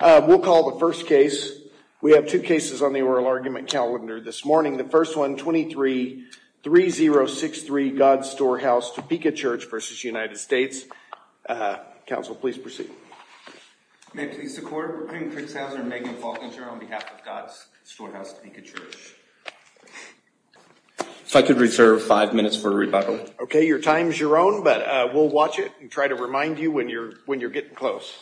We'll call the first case. We have two cases on the oral argument calendar this morning. The first one, 23-3063 God's Storehouse Topeka Church v. United States. Uh, counsel, please proceed. May it please the court. We're putting Fritz Hauser and Megan Falkenter on behalf of God's Storehouse Topeka Church. If I could reserve five minutes for a rebuttal. Okay. Your time's your own, but we'll watch it and try to remind you when you're, when you're getting close.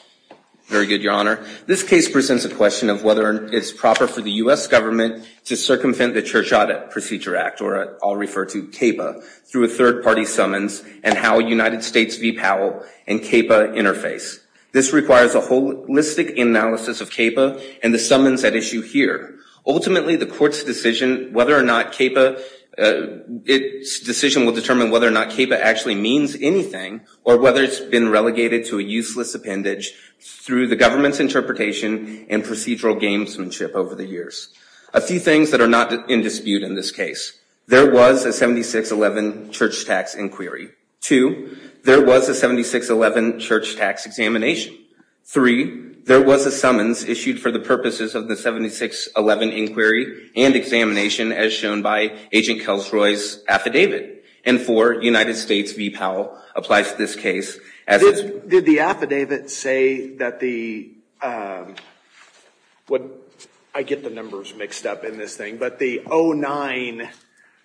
Very good, your honor. This case presents a question of whether it's proper for the U.S. government to circumvent the Church Audit Procedure Act, or I'll refer to CAPA, through a third party summons and how United States v. Powell and CAPA interface. This requires a holistic analysis of CAPA and the summons at issue here. Ultimately, the court's decision, whether or not CAPA, uh, it's decision will determine whether or not CAPA actually means anything or whether it's been relegated to a useless appendage through the government's interpretation and procedural gamesmanship over the years. A few things that are not in dispute in this case, there was a 7611 church tax inquiry. Two, there was a 7611 church tax examination. Three, there was a summons issued for the purposes of the 7611 inquiry and examination as shown by Agent Kelsroy's affidavit. And four, United States v. Powell applies to this case. Did the affidavit say that the, um, what, I get the numbers mixed up in this thing, but the 0-9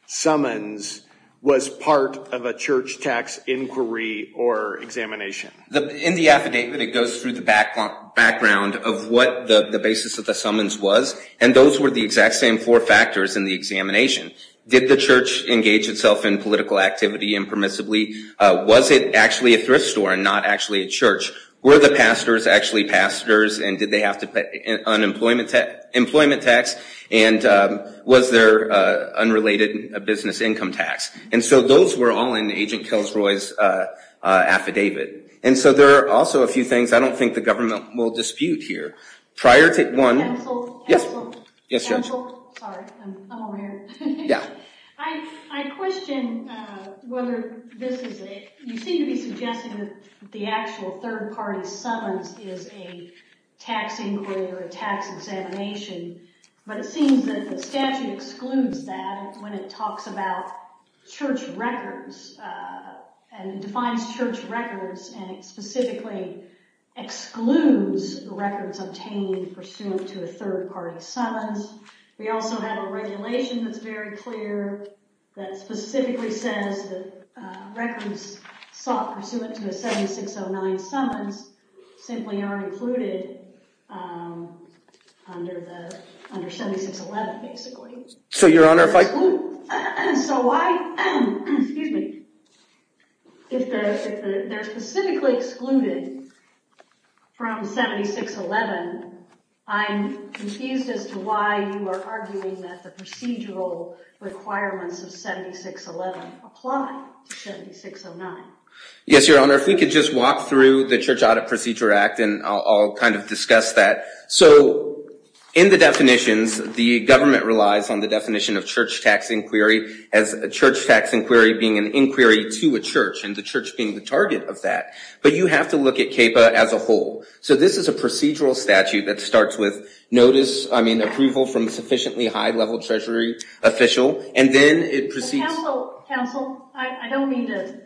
summons was part of a church tax inquiry or examination? In the affidavit, it goes through the background of what the basis of the summons was, and those were the exact same four factors in the examination. Did the church engage itself in political activity impermissibly? Was it actually a thrift store and not actually a church? Were the pastors actually pastors and did they have to pay unemployment tax, employment tax? And was there an unrelated business income tax? And so those were all in Agent Kelsroy's affidavit. And so there are also a few things I don't think the government will dispute here. Prior to, one, yes, yes, Judge. Counsel, sorry, I'm over here. Yeah. I, I question, uh, whether this is a, you seem to be suggesting that the actual third party summons is a tax inquiry or a tax examination, but it seems that the statute excludes that when it talks about church records, uh, and defines church records and specifically excludes the records obtained pursuant to a third party summons. We also have a regulation that's very clear that specifically says that, uh, records sought pursuant to a 7609 summons simply are included, um, under the, under 7611, basically. So, Your Honor, if I, so I, excuse me, if they're, if they're specifically excluded from 7611, I'm confused as to why you are arguing that the procedural requirements of 7611 apply to 7609. Yes, Your Honor. If we could just walk through the Church Audit Procedure Act and I'll, I'll kind of discuss that. So in the definitions, the government relies on the definition of church tax inquiry as a church tax inquiry being an inquiry to a church and the church being the target of that. But you have to look at CAPA as a whole. So this is a procedural statute that starts with notice, I mean, approval from sufficiently high level treasury official, and then it proceeds. Counsel, counsel, I don't mean to,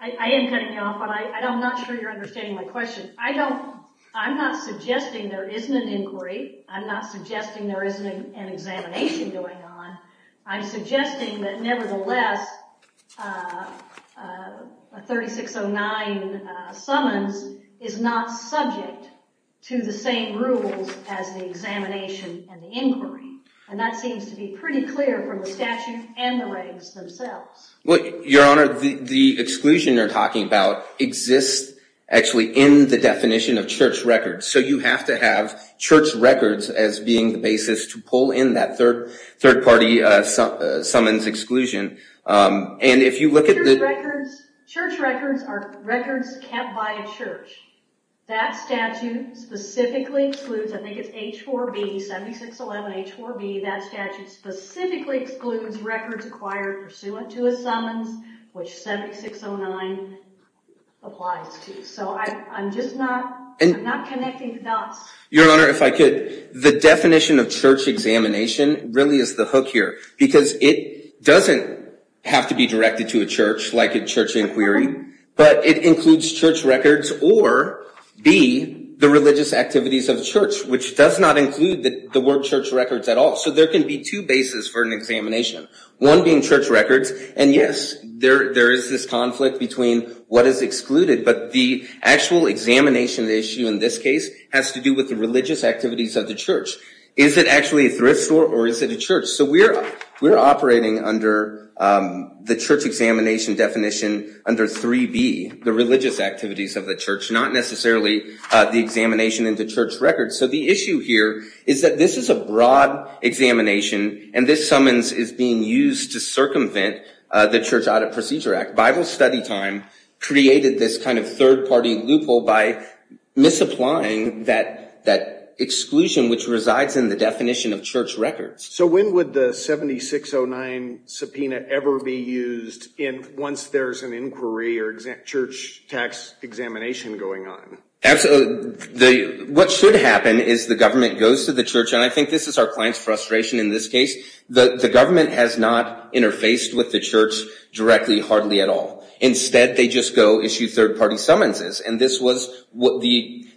I am cutting you off, but I don't, I'm not sure you're understanding my question. I don't, I'm not suggesting there isn't an inquiry. I'm not suggesting there isn't an examination going on. I'm suggesting that nevertheless, a 3609 summons is not subject to the same rules as the examination and the inquiry. And that seems to be pretty clear from the statute and the ratings themselves. Well, Your Honor, the exclusion you're talking about exists actually in the definition of church records. So you have to have church records as being the basis to pull in that third, third-party summons exclusion. And if you look at the records, church records are records kept by a church. That statute specifically excludes, I think it's H-4B, 7611 H-4B, that statute specifically excludes records acquired pursuant to a summons, which 7609 applies to. So I'm just not, I'm not connecting the dots. Your Honor, if I could, the definition of church examination really is the hook here, because it doesn't have to be directed to a church like a church inquiry, but it includes church records or B, the religious activities of the church, which does not include the word church records at all. So there can be two bases for an examination, one being church records. And yes, there is this conflict between what is excluded, but the actual examination issue in this case has to do with the religious activities of the church. Is it actually a thrift store or is it a church? So we're operating under the church examination definition under 3B, the religious activities of the church, not necessarily the examination into church records. So the issue here is that this is a broad examination and this summons is being used to circumvent the Church Audit Procedure Act. Bible study time created this kind of third party loophole by misapplying that exclusion, which resides in the definition of church records. So when would the 7609 subpoena ever be used in once there's an inquiry or church tax examination going on? Absolutely. What should happen is the government goes to the church. And I think this is our client's frustration in this case. The government has not interfaced with the church directly, hardly at all. Instead, they just go issue third party summonses. And this was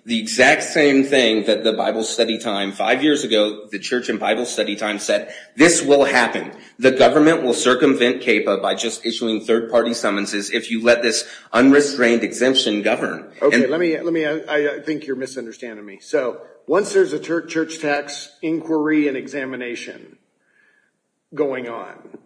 the exact same thing that the Bible study time five years ago, the church and Bible study time said this will happen. The government will circumvent CAPA by just issuing third party summonses if you let this unrestrained exemption govern. OK, let me let me. I think you're misunderstanding me. So once there's a church tax inquiry and examination going on,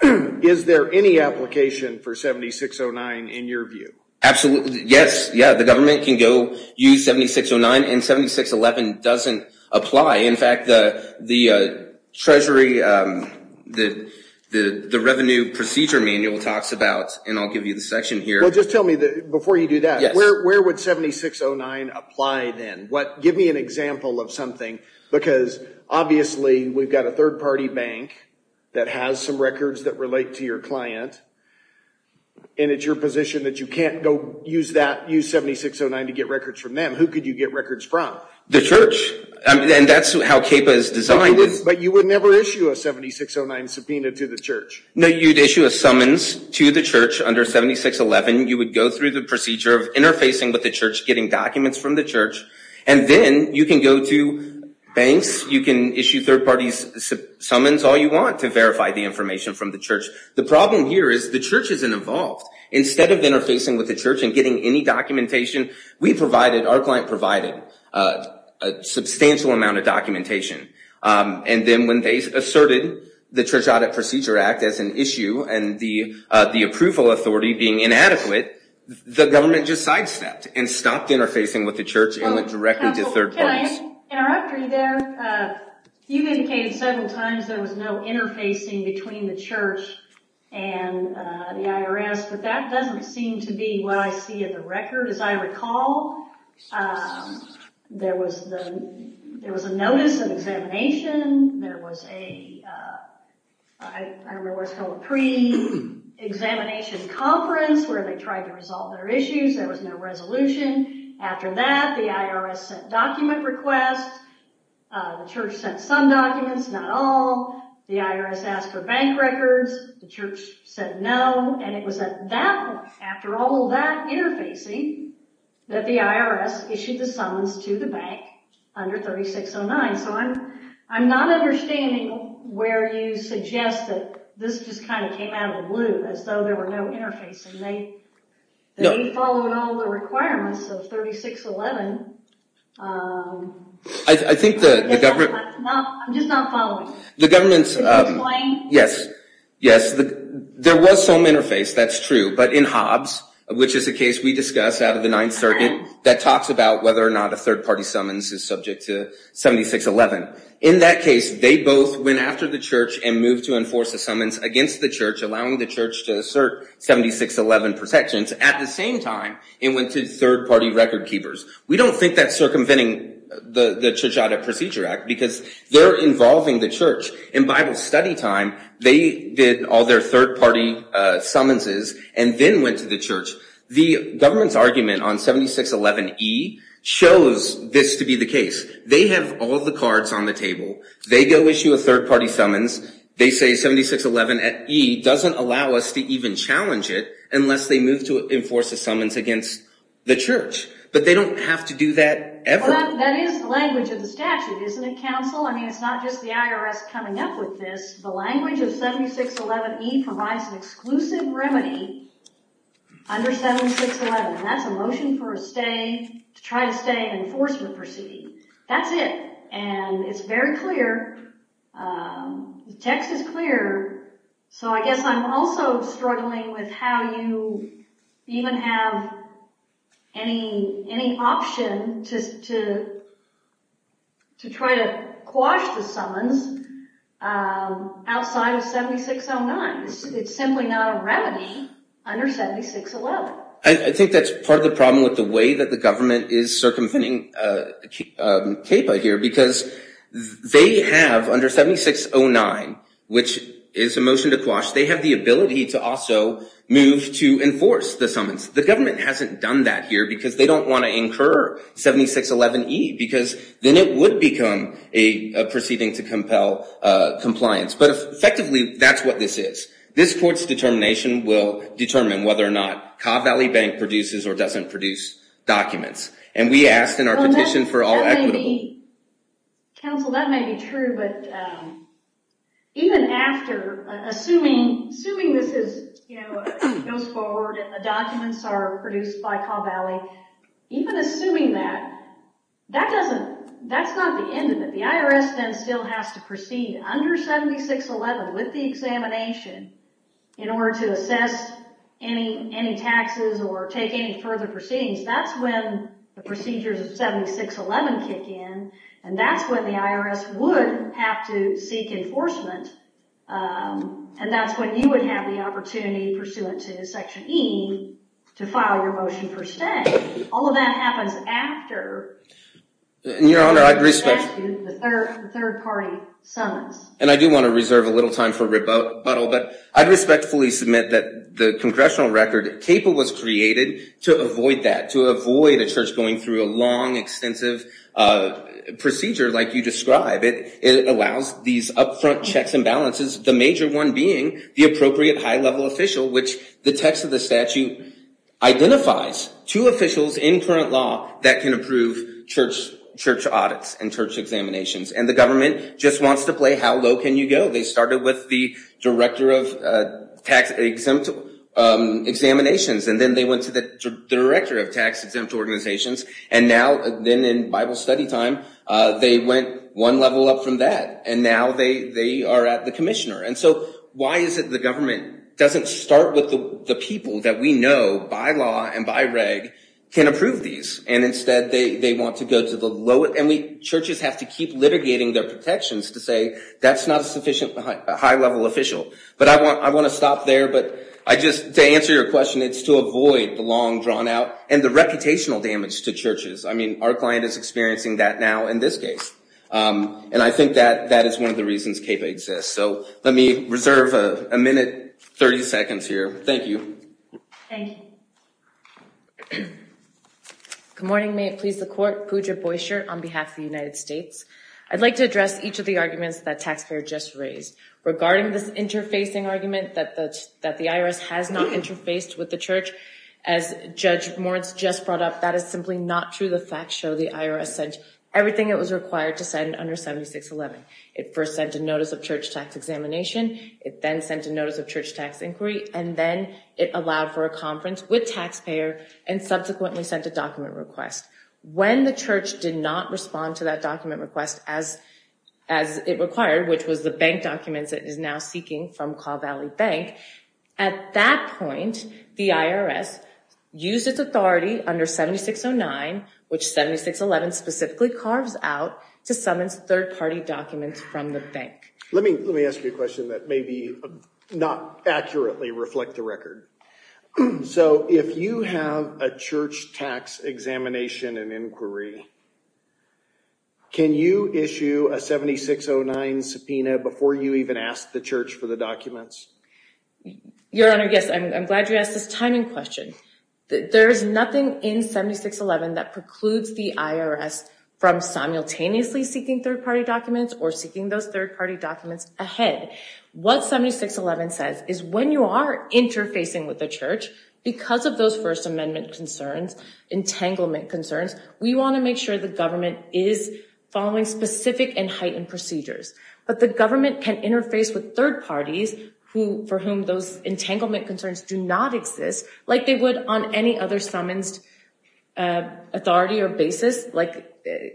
is there any application for 7609 in your view? Absolutely. Yes. Yeah. The government can go use 7609 and 7611 doesn't apply. In fact, the Treasury, the Revenue Procedure Manual talks about and I'll give you the section here. Just tell me before you do that, where would 7609 apply then? Give me an example of something, because obviously we've got a third party bank that has some records that relate to your client. And it's your position that you can't go use that, use 7609 to get records from them. Who could you get records from? The church. And that's how CAPA is designed. But you would never issue a 7609 subpoena to the church. No, you'd issue a summons to the church under 7611. You would go through the procedure of interfacing with the church, getting documents from the church, and then you can go to banks, you can issue third parties summons all you want to verify the information from the church. The problem here is the church isn't involved. Instead of interfacing with the church and getting any documentation, we provided, our client provided a substantial amount of documentation. And then when they asserted the Church Audit Procedure Act as an issue and the approval authority being inadequate, the government just sidestepped and stopped interfacing with the church and went directly to third parties. Can I interrupt you there? You indicated several times there was no interfacing between the church and the IRS, but that doesn't seem to be what I see in the record. As I recall, there was a notice of examination. There was a pre-examination conference where they tried to resolve their issues. There was no resolution. After that, the IRS sent document requests. The church sent some documents, not all. The IRS asked for bank records. The church said no. And it was at that point, after all of that interfacing, that the IRS issued the summons to the bank under 3609. So I'm not understanding where you suggest that this just kind of came out of the blue as though there were no interfacing. They followed all the requirements of 3611. I think the government... I'm just not following. The government's... Yes, yes, there was some interface. That's true. But in Hobbs, which is a case we discussed out of the Ninth Circuit that talks about whether or not a third-party summons is subject to 7611. In that case, they both went after the church and moved to enforce a summons against the church, allowing the church to assert 7611 protections. At the same time, it went to third-party record keepers. We don't think that's circumventing the Church Audit Procedure Act because they're involving the church. In Bible study time, they did all their third-party summonses and then went to the church. The government's argument on 7611E shows this to be the case. They have all the cards on the table. They go issue a third-party summons. They say 7611E doesn't allow us to even challenge it unless they move to enforce a summons against the church. But they don't have to do that ever. That is the language of the statute, isn't it, counsel? I mean, it's not just the IRS coming up with this. The language of 7611E provides an exclusive remedy under 7611, and that's a motion to try to stay in an enforcement proceeding. That's it, and it's very clear. The text is clear. So I guess I'm also struggling with how you even have any option to try to quash the summons outside of 7609. It's simply not a remedy under 7611. I think that's part of the problem with the way that the government is circumventing CAPA here because they have, under 7609, which is a motion to quash, they have the ability to also move to enforce the summons. The government hasn't done that here because they don't want to incur 7611E because then it would become a proceeding to compel compliance. But effectively, that's what this is. This court's determination will determine whether or not Caw Valley Bank produces or doesn't produce documents. And we asked in our petition for all equitable. Counsel, that may be true, but even after, assuming this goes forward and the documents are produced by Caw Valley, even assuming that, that's not the end of it. The IRS then still has to proceed under 7611 with the examination in order to assess any taxes or take any further proceedings. That's when the procedures of 7611 kick in and that's when the IRS would have to seek enforcement. And that's when you would have the opportunity pursuant to Section E to file your motion for stay. All of that happens after. Your Honor, I'd respect. The third party summons. And I do want to reserve a little time for rebuttal, but I respectfully submit that the congressional record CAPA was created to avoid that, to avoid a church going through a long, extensive procedure like you describe. It allows these upfront checks and balances, the major one being the appropriate high level official, which the text of the statute identifies two officials in current law that can approve church audits and church examinations. And the government just wants to play how low can you go? They started with the Director of Tax Exempt Examinations and then they went to the Director of Tax Exempt Organizations. And now then in Bible study time, they went one level up from that and now they are at the commissioner. And so why is it the government doesn't start with the people that we know by law and by reg can approve these? And instead they want to go to the lowest. And churches have to keep litigating their protections to say that's not a high level official. But I want to stop there. But I just to answer your question, it's to avoid the long drawn out and the reputational damage to churches. I mean, our client is experiencing that now in this case. And I think that that is one of the reasons CAPA exists. So let me reserve a minute, 30 seconds here. Thank you. Thank you. Good morning, may it please the court. Guja Boishar on behalf of the United States. I'd like to address each of the arguments that taxpayer just raised regarding this interfacing argument that that the IRS has not interfaced with the church. As Judge Moritz just brought up, that is simply not true. The facts show the IRS sent everything it was required to send under 7611. It first sent a notice of church tax examination. It then sent a notice of church tax inquiry and then it allowed for a conference with taxpayer and subsequently sent a document request when the church did not respond to that document request as as it required, which was the bank documents it is now seeking from Calvary Bank. At that point, the IRS used its authority under 7609, which 7611 specifically carves out to summons third party documents from the bank. Let me let me ask you a question that may be not accurately reflect the record. So if you have a church tax examination and inquiry. Can you issue a 7609 subpoena before you even ask the church for the documents? Your Honor, yes, I'm glad you asked this timing question. There is nothing in 7611 that precludes the IRS from simultaneously seeking third party documents ahead. What 7611 says is when you are interfacing with the church because of those First Amendment concerns, entanglement concerns, we want to make sure the government is following specific and heightened procedures. But the government can interface with third parties who for whom those entanglement concerns do not exist like they would on any other summons authority or basis. Like,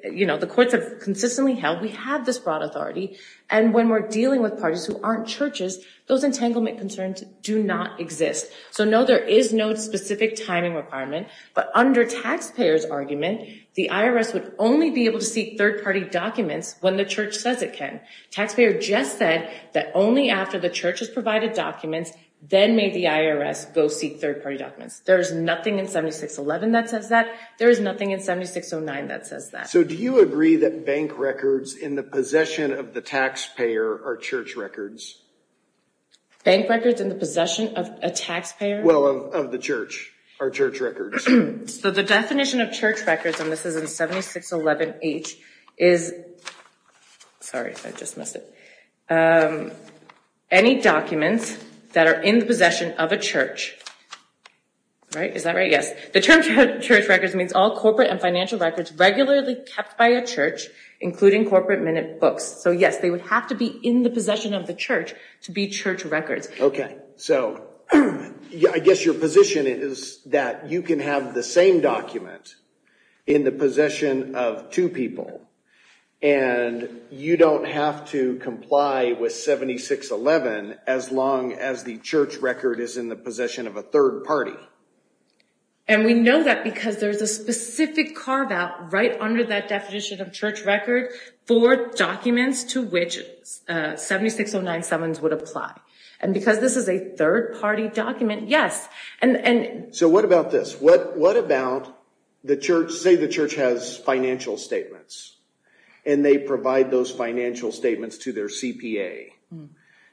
you know, the courts have consistently held we have this broad authority. And when we're dealing with parties who aren't churches, those entanglement concerns do not exist. So, no, there is no specific timing requirement. But under taxpayers argument, the IRS would only be able to seek third party documents when the church says it can. Taxpayer just said that only after the church has provided documents, then may the IRS go seek third party documents. There is nothing in 7611 that says that. There is nothing in 7609 that says that. So do you agree that bank records in the possession of the taxpayer are church records? Bank records in the possession of a taxpayer? Well, of the church, are church records. So the definition of church records, and this is in 7611H, is, sorry, I just missed it. Any documents that are in the possession of a church, right? Is that right? Yes. The term church records means all corporate and financial records regularly kept by a church, including corporate minute books. So, yes, they would have to be in the possession of the church to be church records. Okay. So I guess your position is that you can have the same document in the possession of two people and you don't have to comply with 7611 as long as the church record is in the possession of a third party. And we know that because there's a specific carve out right under that definition of church record for documents to which 76097s would apply. And because this is a third party document, yes. And so what about this? What about the church? Say the church has financial statements and they provide those financial statements to their CPA.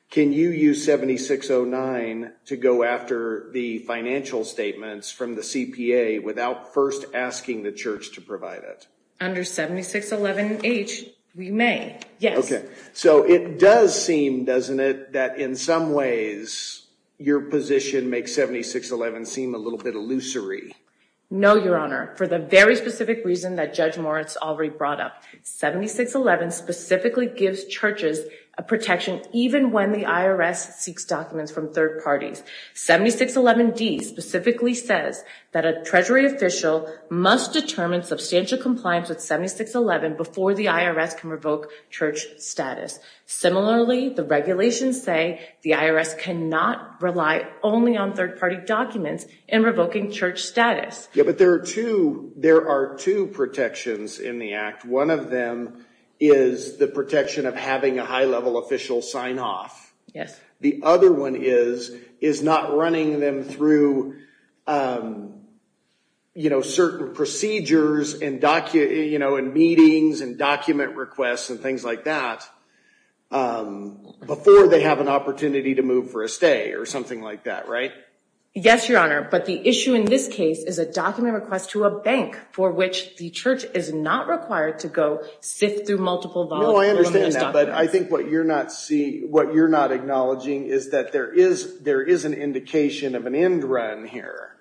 Can you use 7609 to go after the financial statements from the CPA without first asking the church to provide it? Under 7611H, we may. Yes. Okay. So it does seem, doesn't it, that in some ways your position makes 7611 seem a little bit illusory? No, Your Honor, for the very specific reason that Judge Moritz already brought up. 7611 specifically gives churches a protection even when the IRS seeks documents from third parties. 7611D specifically says that a treasury official must determine substantial compliance with 7611 before the IRS can revoke church status. Similarly, the regulations say the IRS cannot rely only on third party documents in revoking church status. Yeah, but there are two, there are two protections in the act. One of them is the protection of having a high level official sign off. Yes. The other one is, is not running them through, you know, certain procedures and documents, you know, and meetings and document requests and things like that before they have an opportunity to move for a stay or something like that. Right? Yes, Your Honor. But the issue in this case is a document request to a bank for which the church is not required to go sift through multiple volumes. No, I understand that, but I think what you're not seeing, what you're not acknowledging is that there is, there is an indication of an end run here.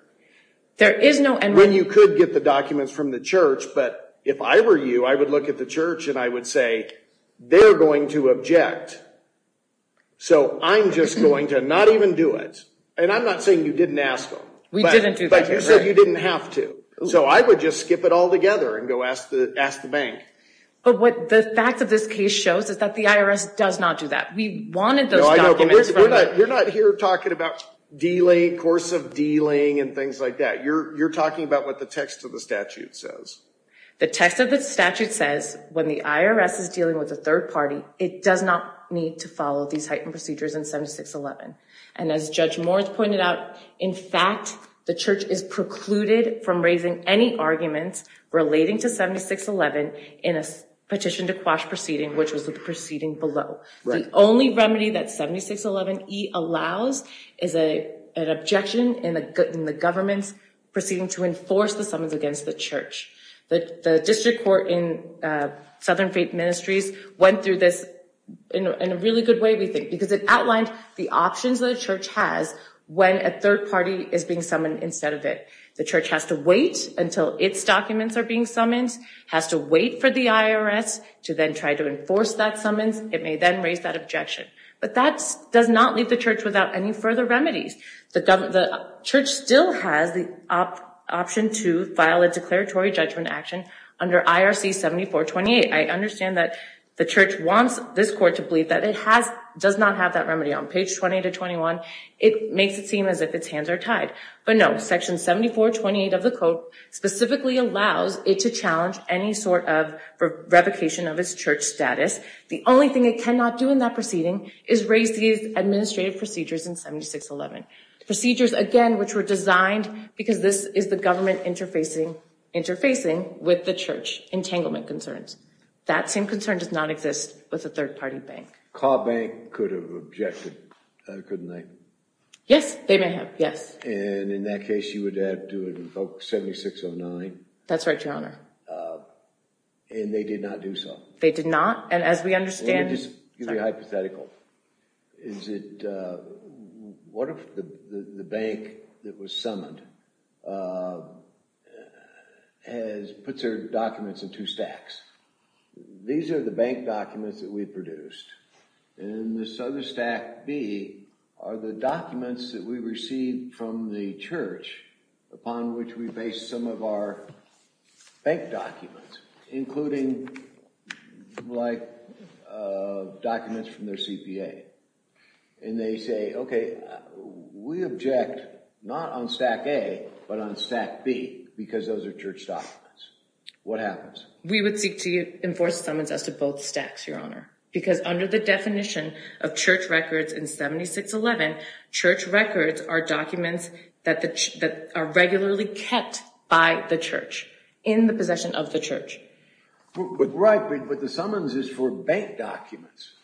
There is no end run. You could get the documents from the church, but if I were you, I would look at the church and I would say they're going to object. So I'm just going to not even do it. And I'm not saying you didn't ask them. We didn't do that. But you said you didn't have to. So I would just skip it all together and go ask the bank. But what the fact of this case shows is that the IRS does not do that. We wanted those documents. You're not here talking about course of dealing and things like that. You're talking about what the text of the statute says. The text of the statute says when the IRS is dealing with a third party, it does not need to follow these heightened procedures in 7611. And as Judge Moritz pointed out, in fact, the church is precluded from raising any arguments relating to 7611 in a petition to quash proceeding, which was the proceeding below. The only remedy that 7611E allows is an objection in the government's proceeding to enforce the summons against the church. The district court in Southern Faith Ministries went through this in a really good way, because it outlined the options the church has when a third party is being summoned instead of it. The church has to wait until its documents are being summons, has to wait for the IRS to then try to enforce that summons. It may then raise that objection. But that does not leave the church without any further remedies. The church still has the option to file a declaratory judgment action under IRC 7428. I understand that the church wants this court to believe that it does not have that remedy on page 20 to 21. It makes it seem as if its hands are tied. But no, section 7428 of the code specifically allows it to challenge any sort of revocation of its church status. The only thing it cannot do in that proceeding is raise these administrative procedures in 7611. Procedures, again, which were designed because this is the government interfacing with the church entanglement concerns. That same concern does not exist with a third party bank. Cobb Bank could have objected, couldn't they? Yes, they may have, yes. And in that case, you would have to invoke 7609. That's right, Your Honor. And they did not do so. They did not. And as we understand... Let me just give you a hypothetical. Is it, what if the bank that was summoned puts their documents in two stacks? These are the bank documents that we produced. And this other stack B are the documents that we received from the church upon which we base some of our bank documents, including documents from their CPA. And they say, OK, we object not on stack A, but on stack B because those are church documents. What happens? We would seek to enforce a summons as to both stacks, Your Honor, because under the definition of church records in 7611, church records are documents that are regularly kept by the church in the possession of the church. But right, but the summons is for bank documents.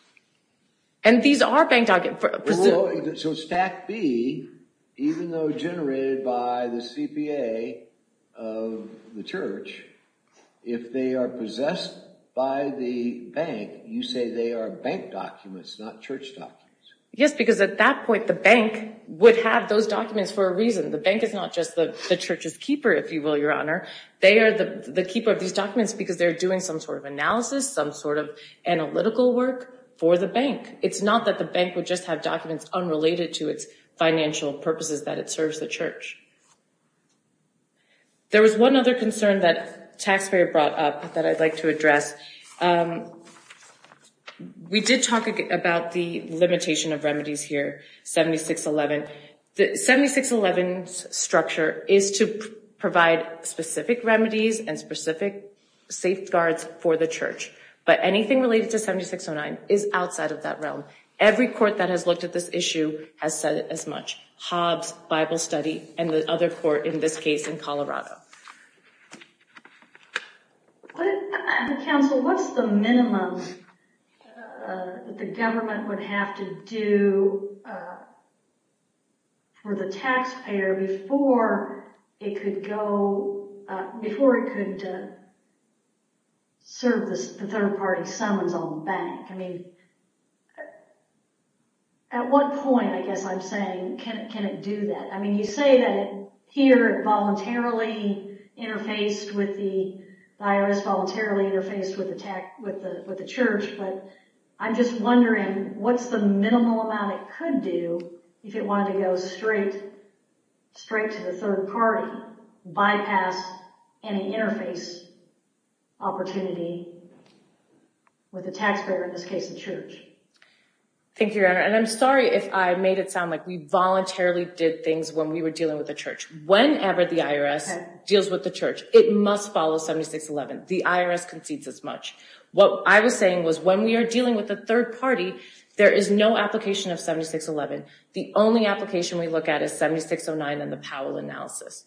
And these are bank documents. So stack B, even though generated by the CPA of the church, if they are possessed by the bank, you say they are bank documents, not church documents. Yes, because at that point, the bank would have those documents for a reason. The bank is not just the church's keeper, if you will, Your Honor. They are the keeper of these documents because they're doing some sort of analysis, some sort of analytical work for the bank. It's not that the bank would just have documents unrelated to its financial purposes, that it serves the church. There was one other concern that taxpayer brought up that I'd like to address. We did talk about the limitation of remedies here, 7611. 7611's structure is to provide specific remedies and specific safeguards for the Every court that has looked at this issue has said it as much, Hobbs Bible Study, and the other court in this case in Colorado. Counsel, what's the minimum that the government would have to do for the taxpayer before it could go, before it could serve the third party summons on the bank? I mean, at what point, I guess I'm saying, can it do that? I mean, you say that here it voluntarily interfaced with the IRS, voluntarily interfaced with the church, but I'm just wondering what's the minimal amount it could do if it wanted to go straight to the third party, bypass any interface opportunity with the taxpayer, in this case, the church. Thank you, Your Honor. And I'm sorry if I made it sound like we voluntarily did things when we were dealing with the church. Whenever the IRS deals with the church, it must follow 7611. The IRS concedes as much. What I was saying was when we are dealing with the third party, there is no application of 7611. The only application we look at is 7609 and the Powell analysis.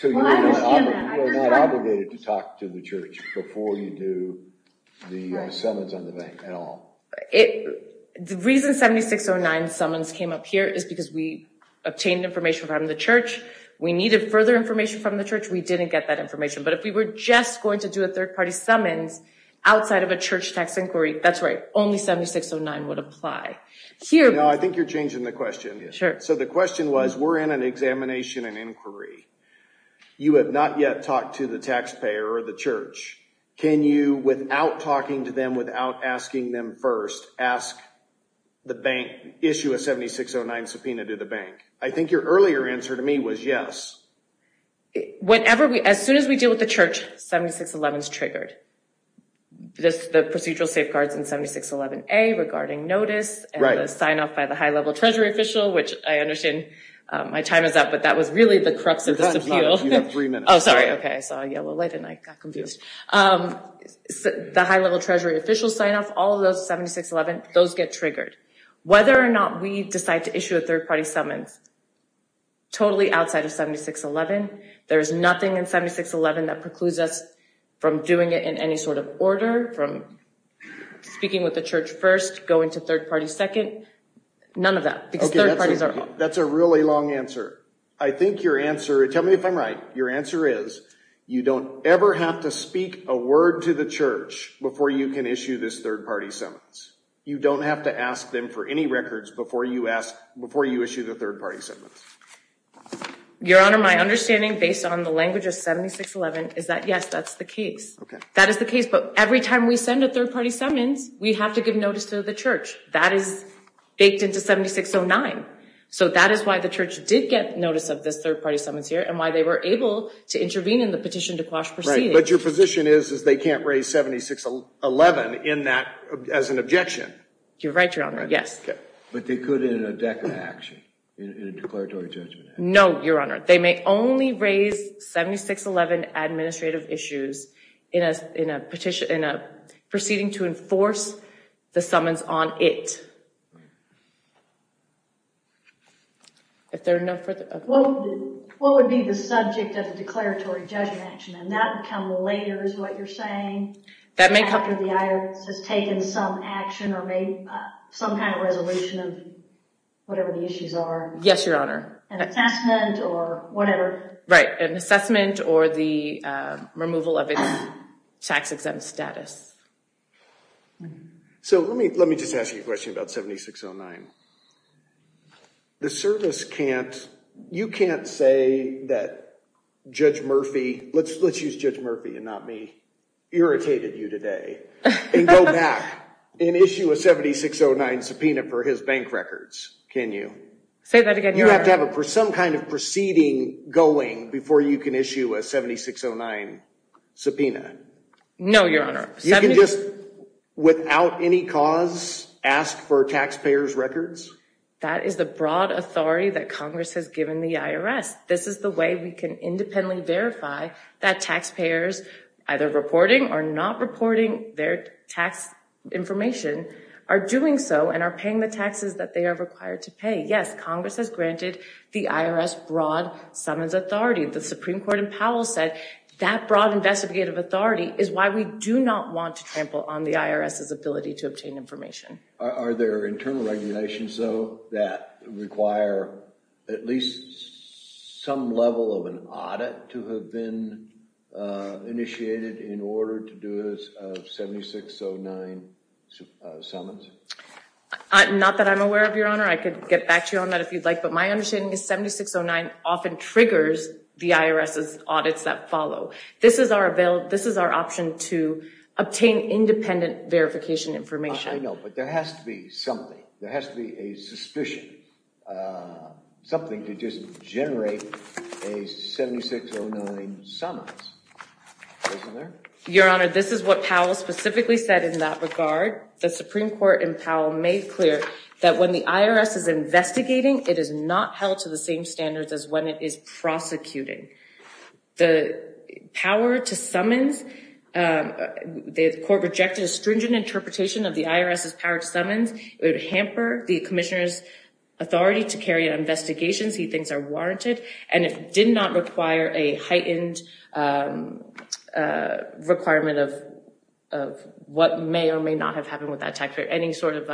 So you are not obligated to talk to the church before you do the summons on the bank at all? The reason 7609 summons came up here is because we obtained information from the church. We needed further information from the church. We didn't get that information. But if we were just going to do a third party summons outside of a church tax inquiry, that's right. Only 7609 would apply. Now, I think you're changing the question. So the question was, we're in an examination and inquiry. You have not yet talked to the taxpayer or the church. Can you, without talking to them, without asking them first, issue a 7609 subpoena to the bank? I think your earlier answer to me was yes. As soon as we deal with the church, 7611 is triggered. The procedural safeguards in 7611A regarding notice and the sign off by the high level treasury official, which I understand my time is up, but that was really the crux of this appeal. You have three minutes. Oh, sorry. Okay. I saw a yellow light and I got confused. The high level treasury official sign off, all of those 7611, those get triggered. Whether or not we decide to issue a third party summons, totally outside of 7611, there's nothing in 7611 that precludes us from doing it in any sort of order, from speaking with the church first, going to third party second, none of that. That's a really long answer. I think your answer, tell me if I'm right, your answer is you don't ever have to speak a word to the church before you can issue this third party summons. You don't have to ask them for any records before you ask, before you issue the third party summons. Your Honor, my understanding based on the language of 7611 is that yes, that's the case. That is the case, but every time we send a third party summons, we have to give notice to the church. That is baked into 7609. So that is why the church did get notice of this third party summons here and why they were able to intervene in the petition to quash proceedings. But your position is, is they can't raise 7611 in that, as an objection. You're right, Your Honor. Yes. But they could in a declarative action, in a declaratory judgment. No, Your Honor. They may only raise 7611 administrative issues in a petition, in a proceeding to enforce the summons on it. If there are enough for the... What would be the subject of the declaratory judgment action? And that would come later is what you're saying? That may come... After the IRS has taken some action or made some kind of resolution of whatever the issues are. Yes, Your Honor. An assessment or whatever. Right. An assessment or the removal of its tax exempt status. So let me just ask you a question about 7609. The service can't, you can't say that Judge Murphy, let's use Judge Murphy and not me, irritated you today and go back and issue a 7609 subpoena for his bank records, can you? Say that again, Your Honor. You have to have some kind of proceeding going before you can issue a 7609 subpoena. No, Your Honor. You can just, without any cause, ask for taxpayers' records? That is the broad authority that Congress has given the IRS. This is the way we can independently verify that taxpayers, either reporting or not reporting their tax information, are doing so and are paying the taxes that they are required to pay. Yes, Congress has granted the IRS broad summons authority. The Supreme Court in Powell said that broad investigative authority is why we do not want to trample on the IRS's ability to obtain information. Are there internal regulations, though, that require at least some level of an audit to have been initiated in order to do a 7609 summons? Not that I'm aware of, Your Honor. I could get back to you on that if you'd like, but my understanding is 7609 often triggers the IRS's audits that follow. This is our option to obtain independent verification information. I know, but there has to be something. There has to be a suspicion, something to just generate a 7609 summons. Your Honor, this is what Powell specifically said in that regard. The Supreme Court in Powell made clear that when the IRS is investigating, it is not held to the same standards as when it is prosecuting. The power to summons, the court rejected a stringent interpretation of the IRS's power to summons. It would hamper the commissioner's authority to carry out investigations he thinks are warranted, and it did not require a heightened requirement of what may or may not have happened with that taxpayer, any sort of,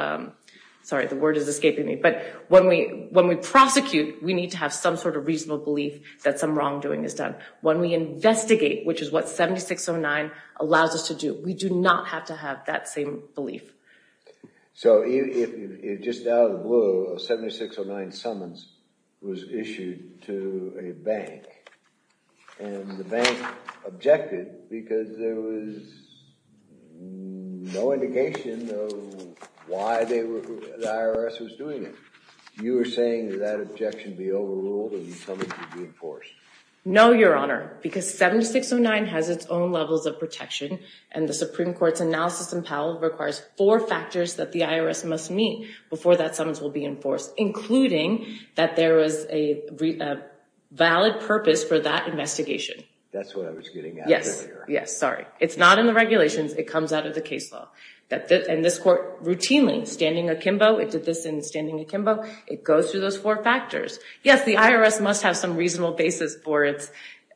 sorry, the word is escaping me, but when we prosecute, we need to have some sort of reasonable belief that some wrongdoing is done. When we investigate, which is what 7609 allows us to do, we do not have to have that same belief. So if just out of the blue, a 7609 summons was issued to a bank and the no indication of why the IRS was doing it, you were saying that that objection be overruled and the summons would be enforced? No, Your Honor, because 7609 has its own levels of protection and the Supreme Court's analysis in Powell requires four factors that the IRS must meet before that summons will be enforced, including that there was a valid purpose for that investigation. That's what I was getting at earlier. Yes. Sorry. It's not in the regulations. It comes out of the case law. And this court routinely, standing akimbo, it did this in standing akimbo, it goes through those four factors. Yes, the IRS must have some reasonable basis for its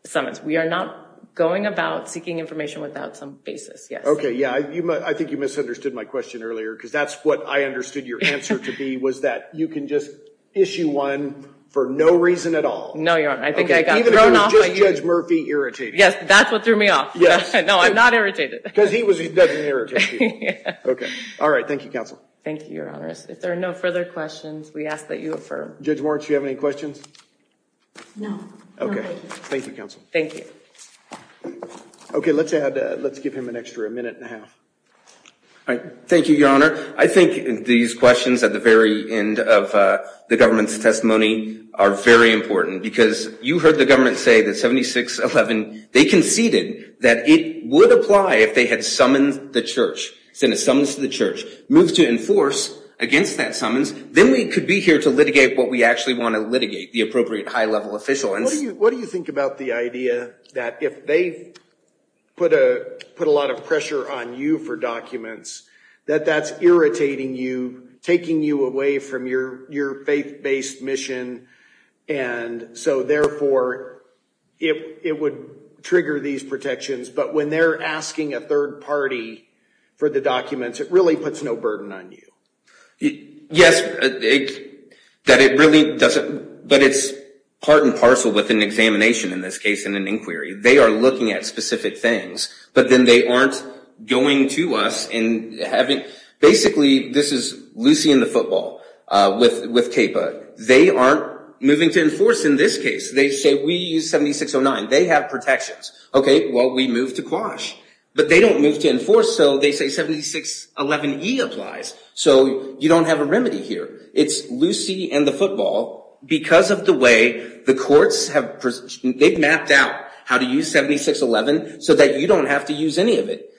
summons. We are not going about seeking information without some basis. Yes. Okay. Yeah. I think you misunderstood my question earlier because that's what I understood your answer to be was that you can just issue one for no reason at all. No, Your Honor. I think I got thrown off by you. Even if it was just Judge Murphy irritated. Yes. That's what threw me off. Yes. No, I'm not irritated. Because he was, he doesn't irritate you. Okay. All right. Thank you, counsel. Thank you, Your Honor. If there are no further questions, we ask that you affirm. Judge Warren, do you have any questions? No. Okay. Thank you, counsel. Thank you. Okay. Let's add, let's give him an extra minute and a half. All right. Thank you, Your Honor. I think these questions at the very end of the government's testimony are very important because you heard the government say that 7611, they conceded that it would apply if they had summoned the church, sent a summons to the church, moved to enforce against that summons, then we could be here to litigate what we actually want to litigate, the appropriate high level official. And what do you, what do you think about the idea that if they put a, put a lot of pressure on you for documents, that that's irritating you, taking you away from your, your faith based mission. And so therefore, if it would trigger these protections, but when they're asking a third party for the documents, it really puts no burden on you. Yes, that it really doesn't, but it's part and parcel with an examination in this case, in an inquiry, they are looking at specific things, but then they aren't going to us and having, basically, this is Lucy and the football with, with CAPA, they aren't moving to enforce in this case. They say we use 7609. They have protections. Okay. Well, we move to quash, but they don't move to enforce. So they say 7611E applies. So you don't have a remedy here. It's Lucy and the football because of the way the courts have, they've mapped out how to use 7611 so that you don't have to use any of it,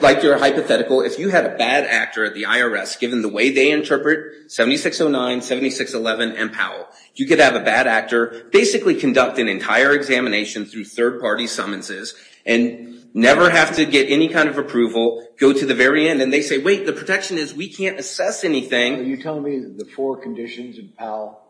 like your hypothetical. If you have a bad actor at the IRS, given the way they interpret 7609, 7611, and Powell, you could have a bad actor, basically conduct an entire examination through third-party summonses and never have to get any kind of approval. Go to the very end. And they say, wait, the protection is we can't assess anything. Are you telling me the four conditions in Powell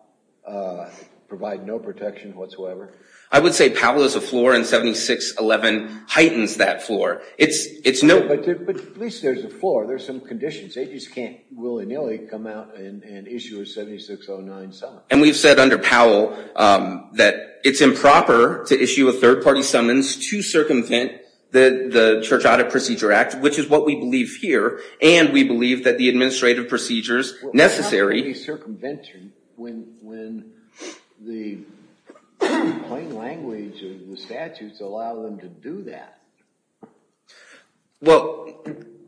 provide no protection whatsoever? I would say Powell is a floor and 7611 heightens that floor. It's, it's no, but at least there's a floor. There's some conditions. They just can't willy-nilly come out and issue a 7609 summons. And we've said under Powell that it's improper to issue a third-party summons to circumvent the Church Audit Procedure Act, which is what we believe here. And we believe that the administrative procedures necessary. Well, how can it be circumvented when, when the plain language of the statutes allow them to do that? Well,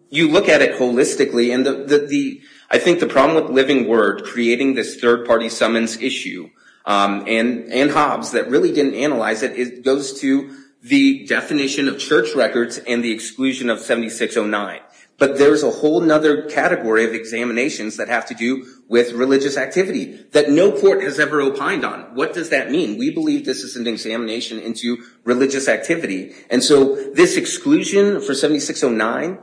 you look at it holistically and the, the, the, I think the problem with Living Word creating this third-party summons issue and, and Hobbs that really didn't analyze it, it goes to the definition of church records and the exclusion of 7609, but there's a whole nother category of examinations that have to do with religious activity that no court has ever opined on. What does that mean? We believe this is an examination into religious activity. And so this exclusion for 7609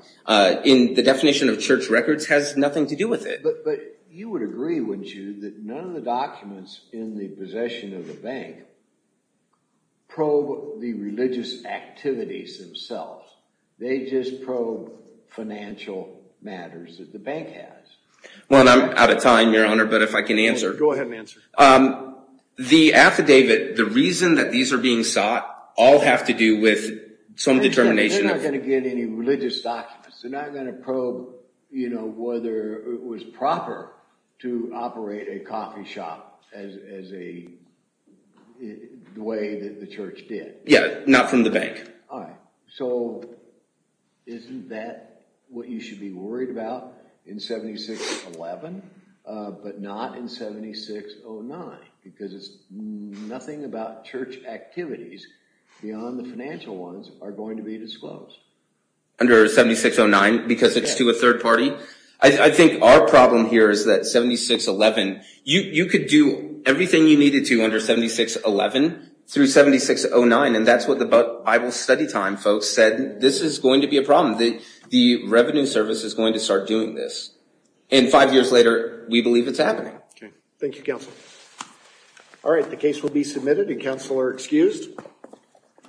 in the definition of church records has nothing to do with it. But, but you would agree, wouldn't you, that none of the documents in the possession of the bank probe the religious activities themselves. They just probe financial matters that the bank has. Well, I'm out of time, Your Honor, but if I can answer. Go ahead and answer. The affidavit, the reason that these are being sought all have to do with some determination. They're not going to get any religious documents. They're not going to probe, you know, whether it was proper to operate a coffee shop as a, the way that the church did. Yeah, not from the bank. All right, so isn't that what you should be worried about in 7611, but not in 7609, because it's nothing about church activities beyond the financial ones are going to be disclosed. Under 7609, because it's to a third party. I think our problem here is that 7611, you could do everything you needed to under 7611 through 7609, and that's what the Bible study time folks said. This is going to be a problem. The Revenue Service is going to start doing this. And five years later, we believe it's happening. Okay, thank you, Counsel. All right, the case will be submitted, and Counsel are excused.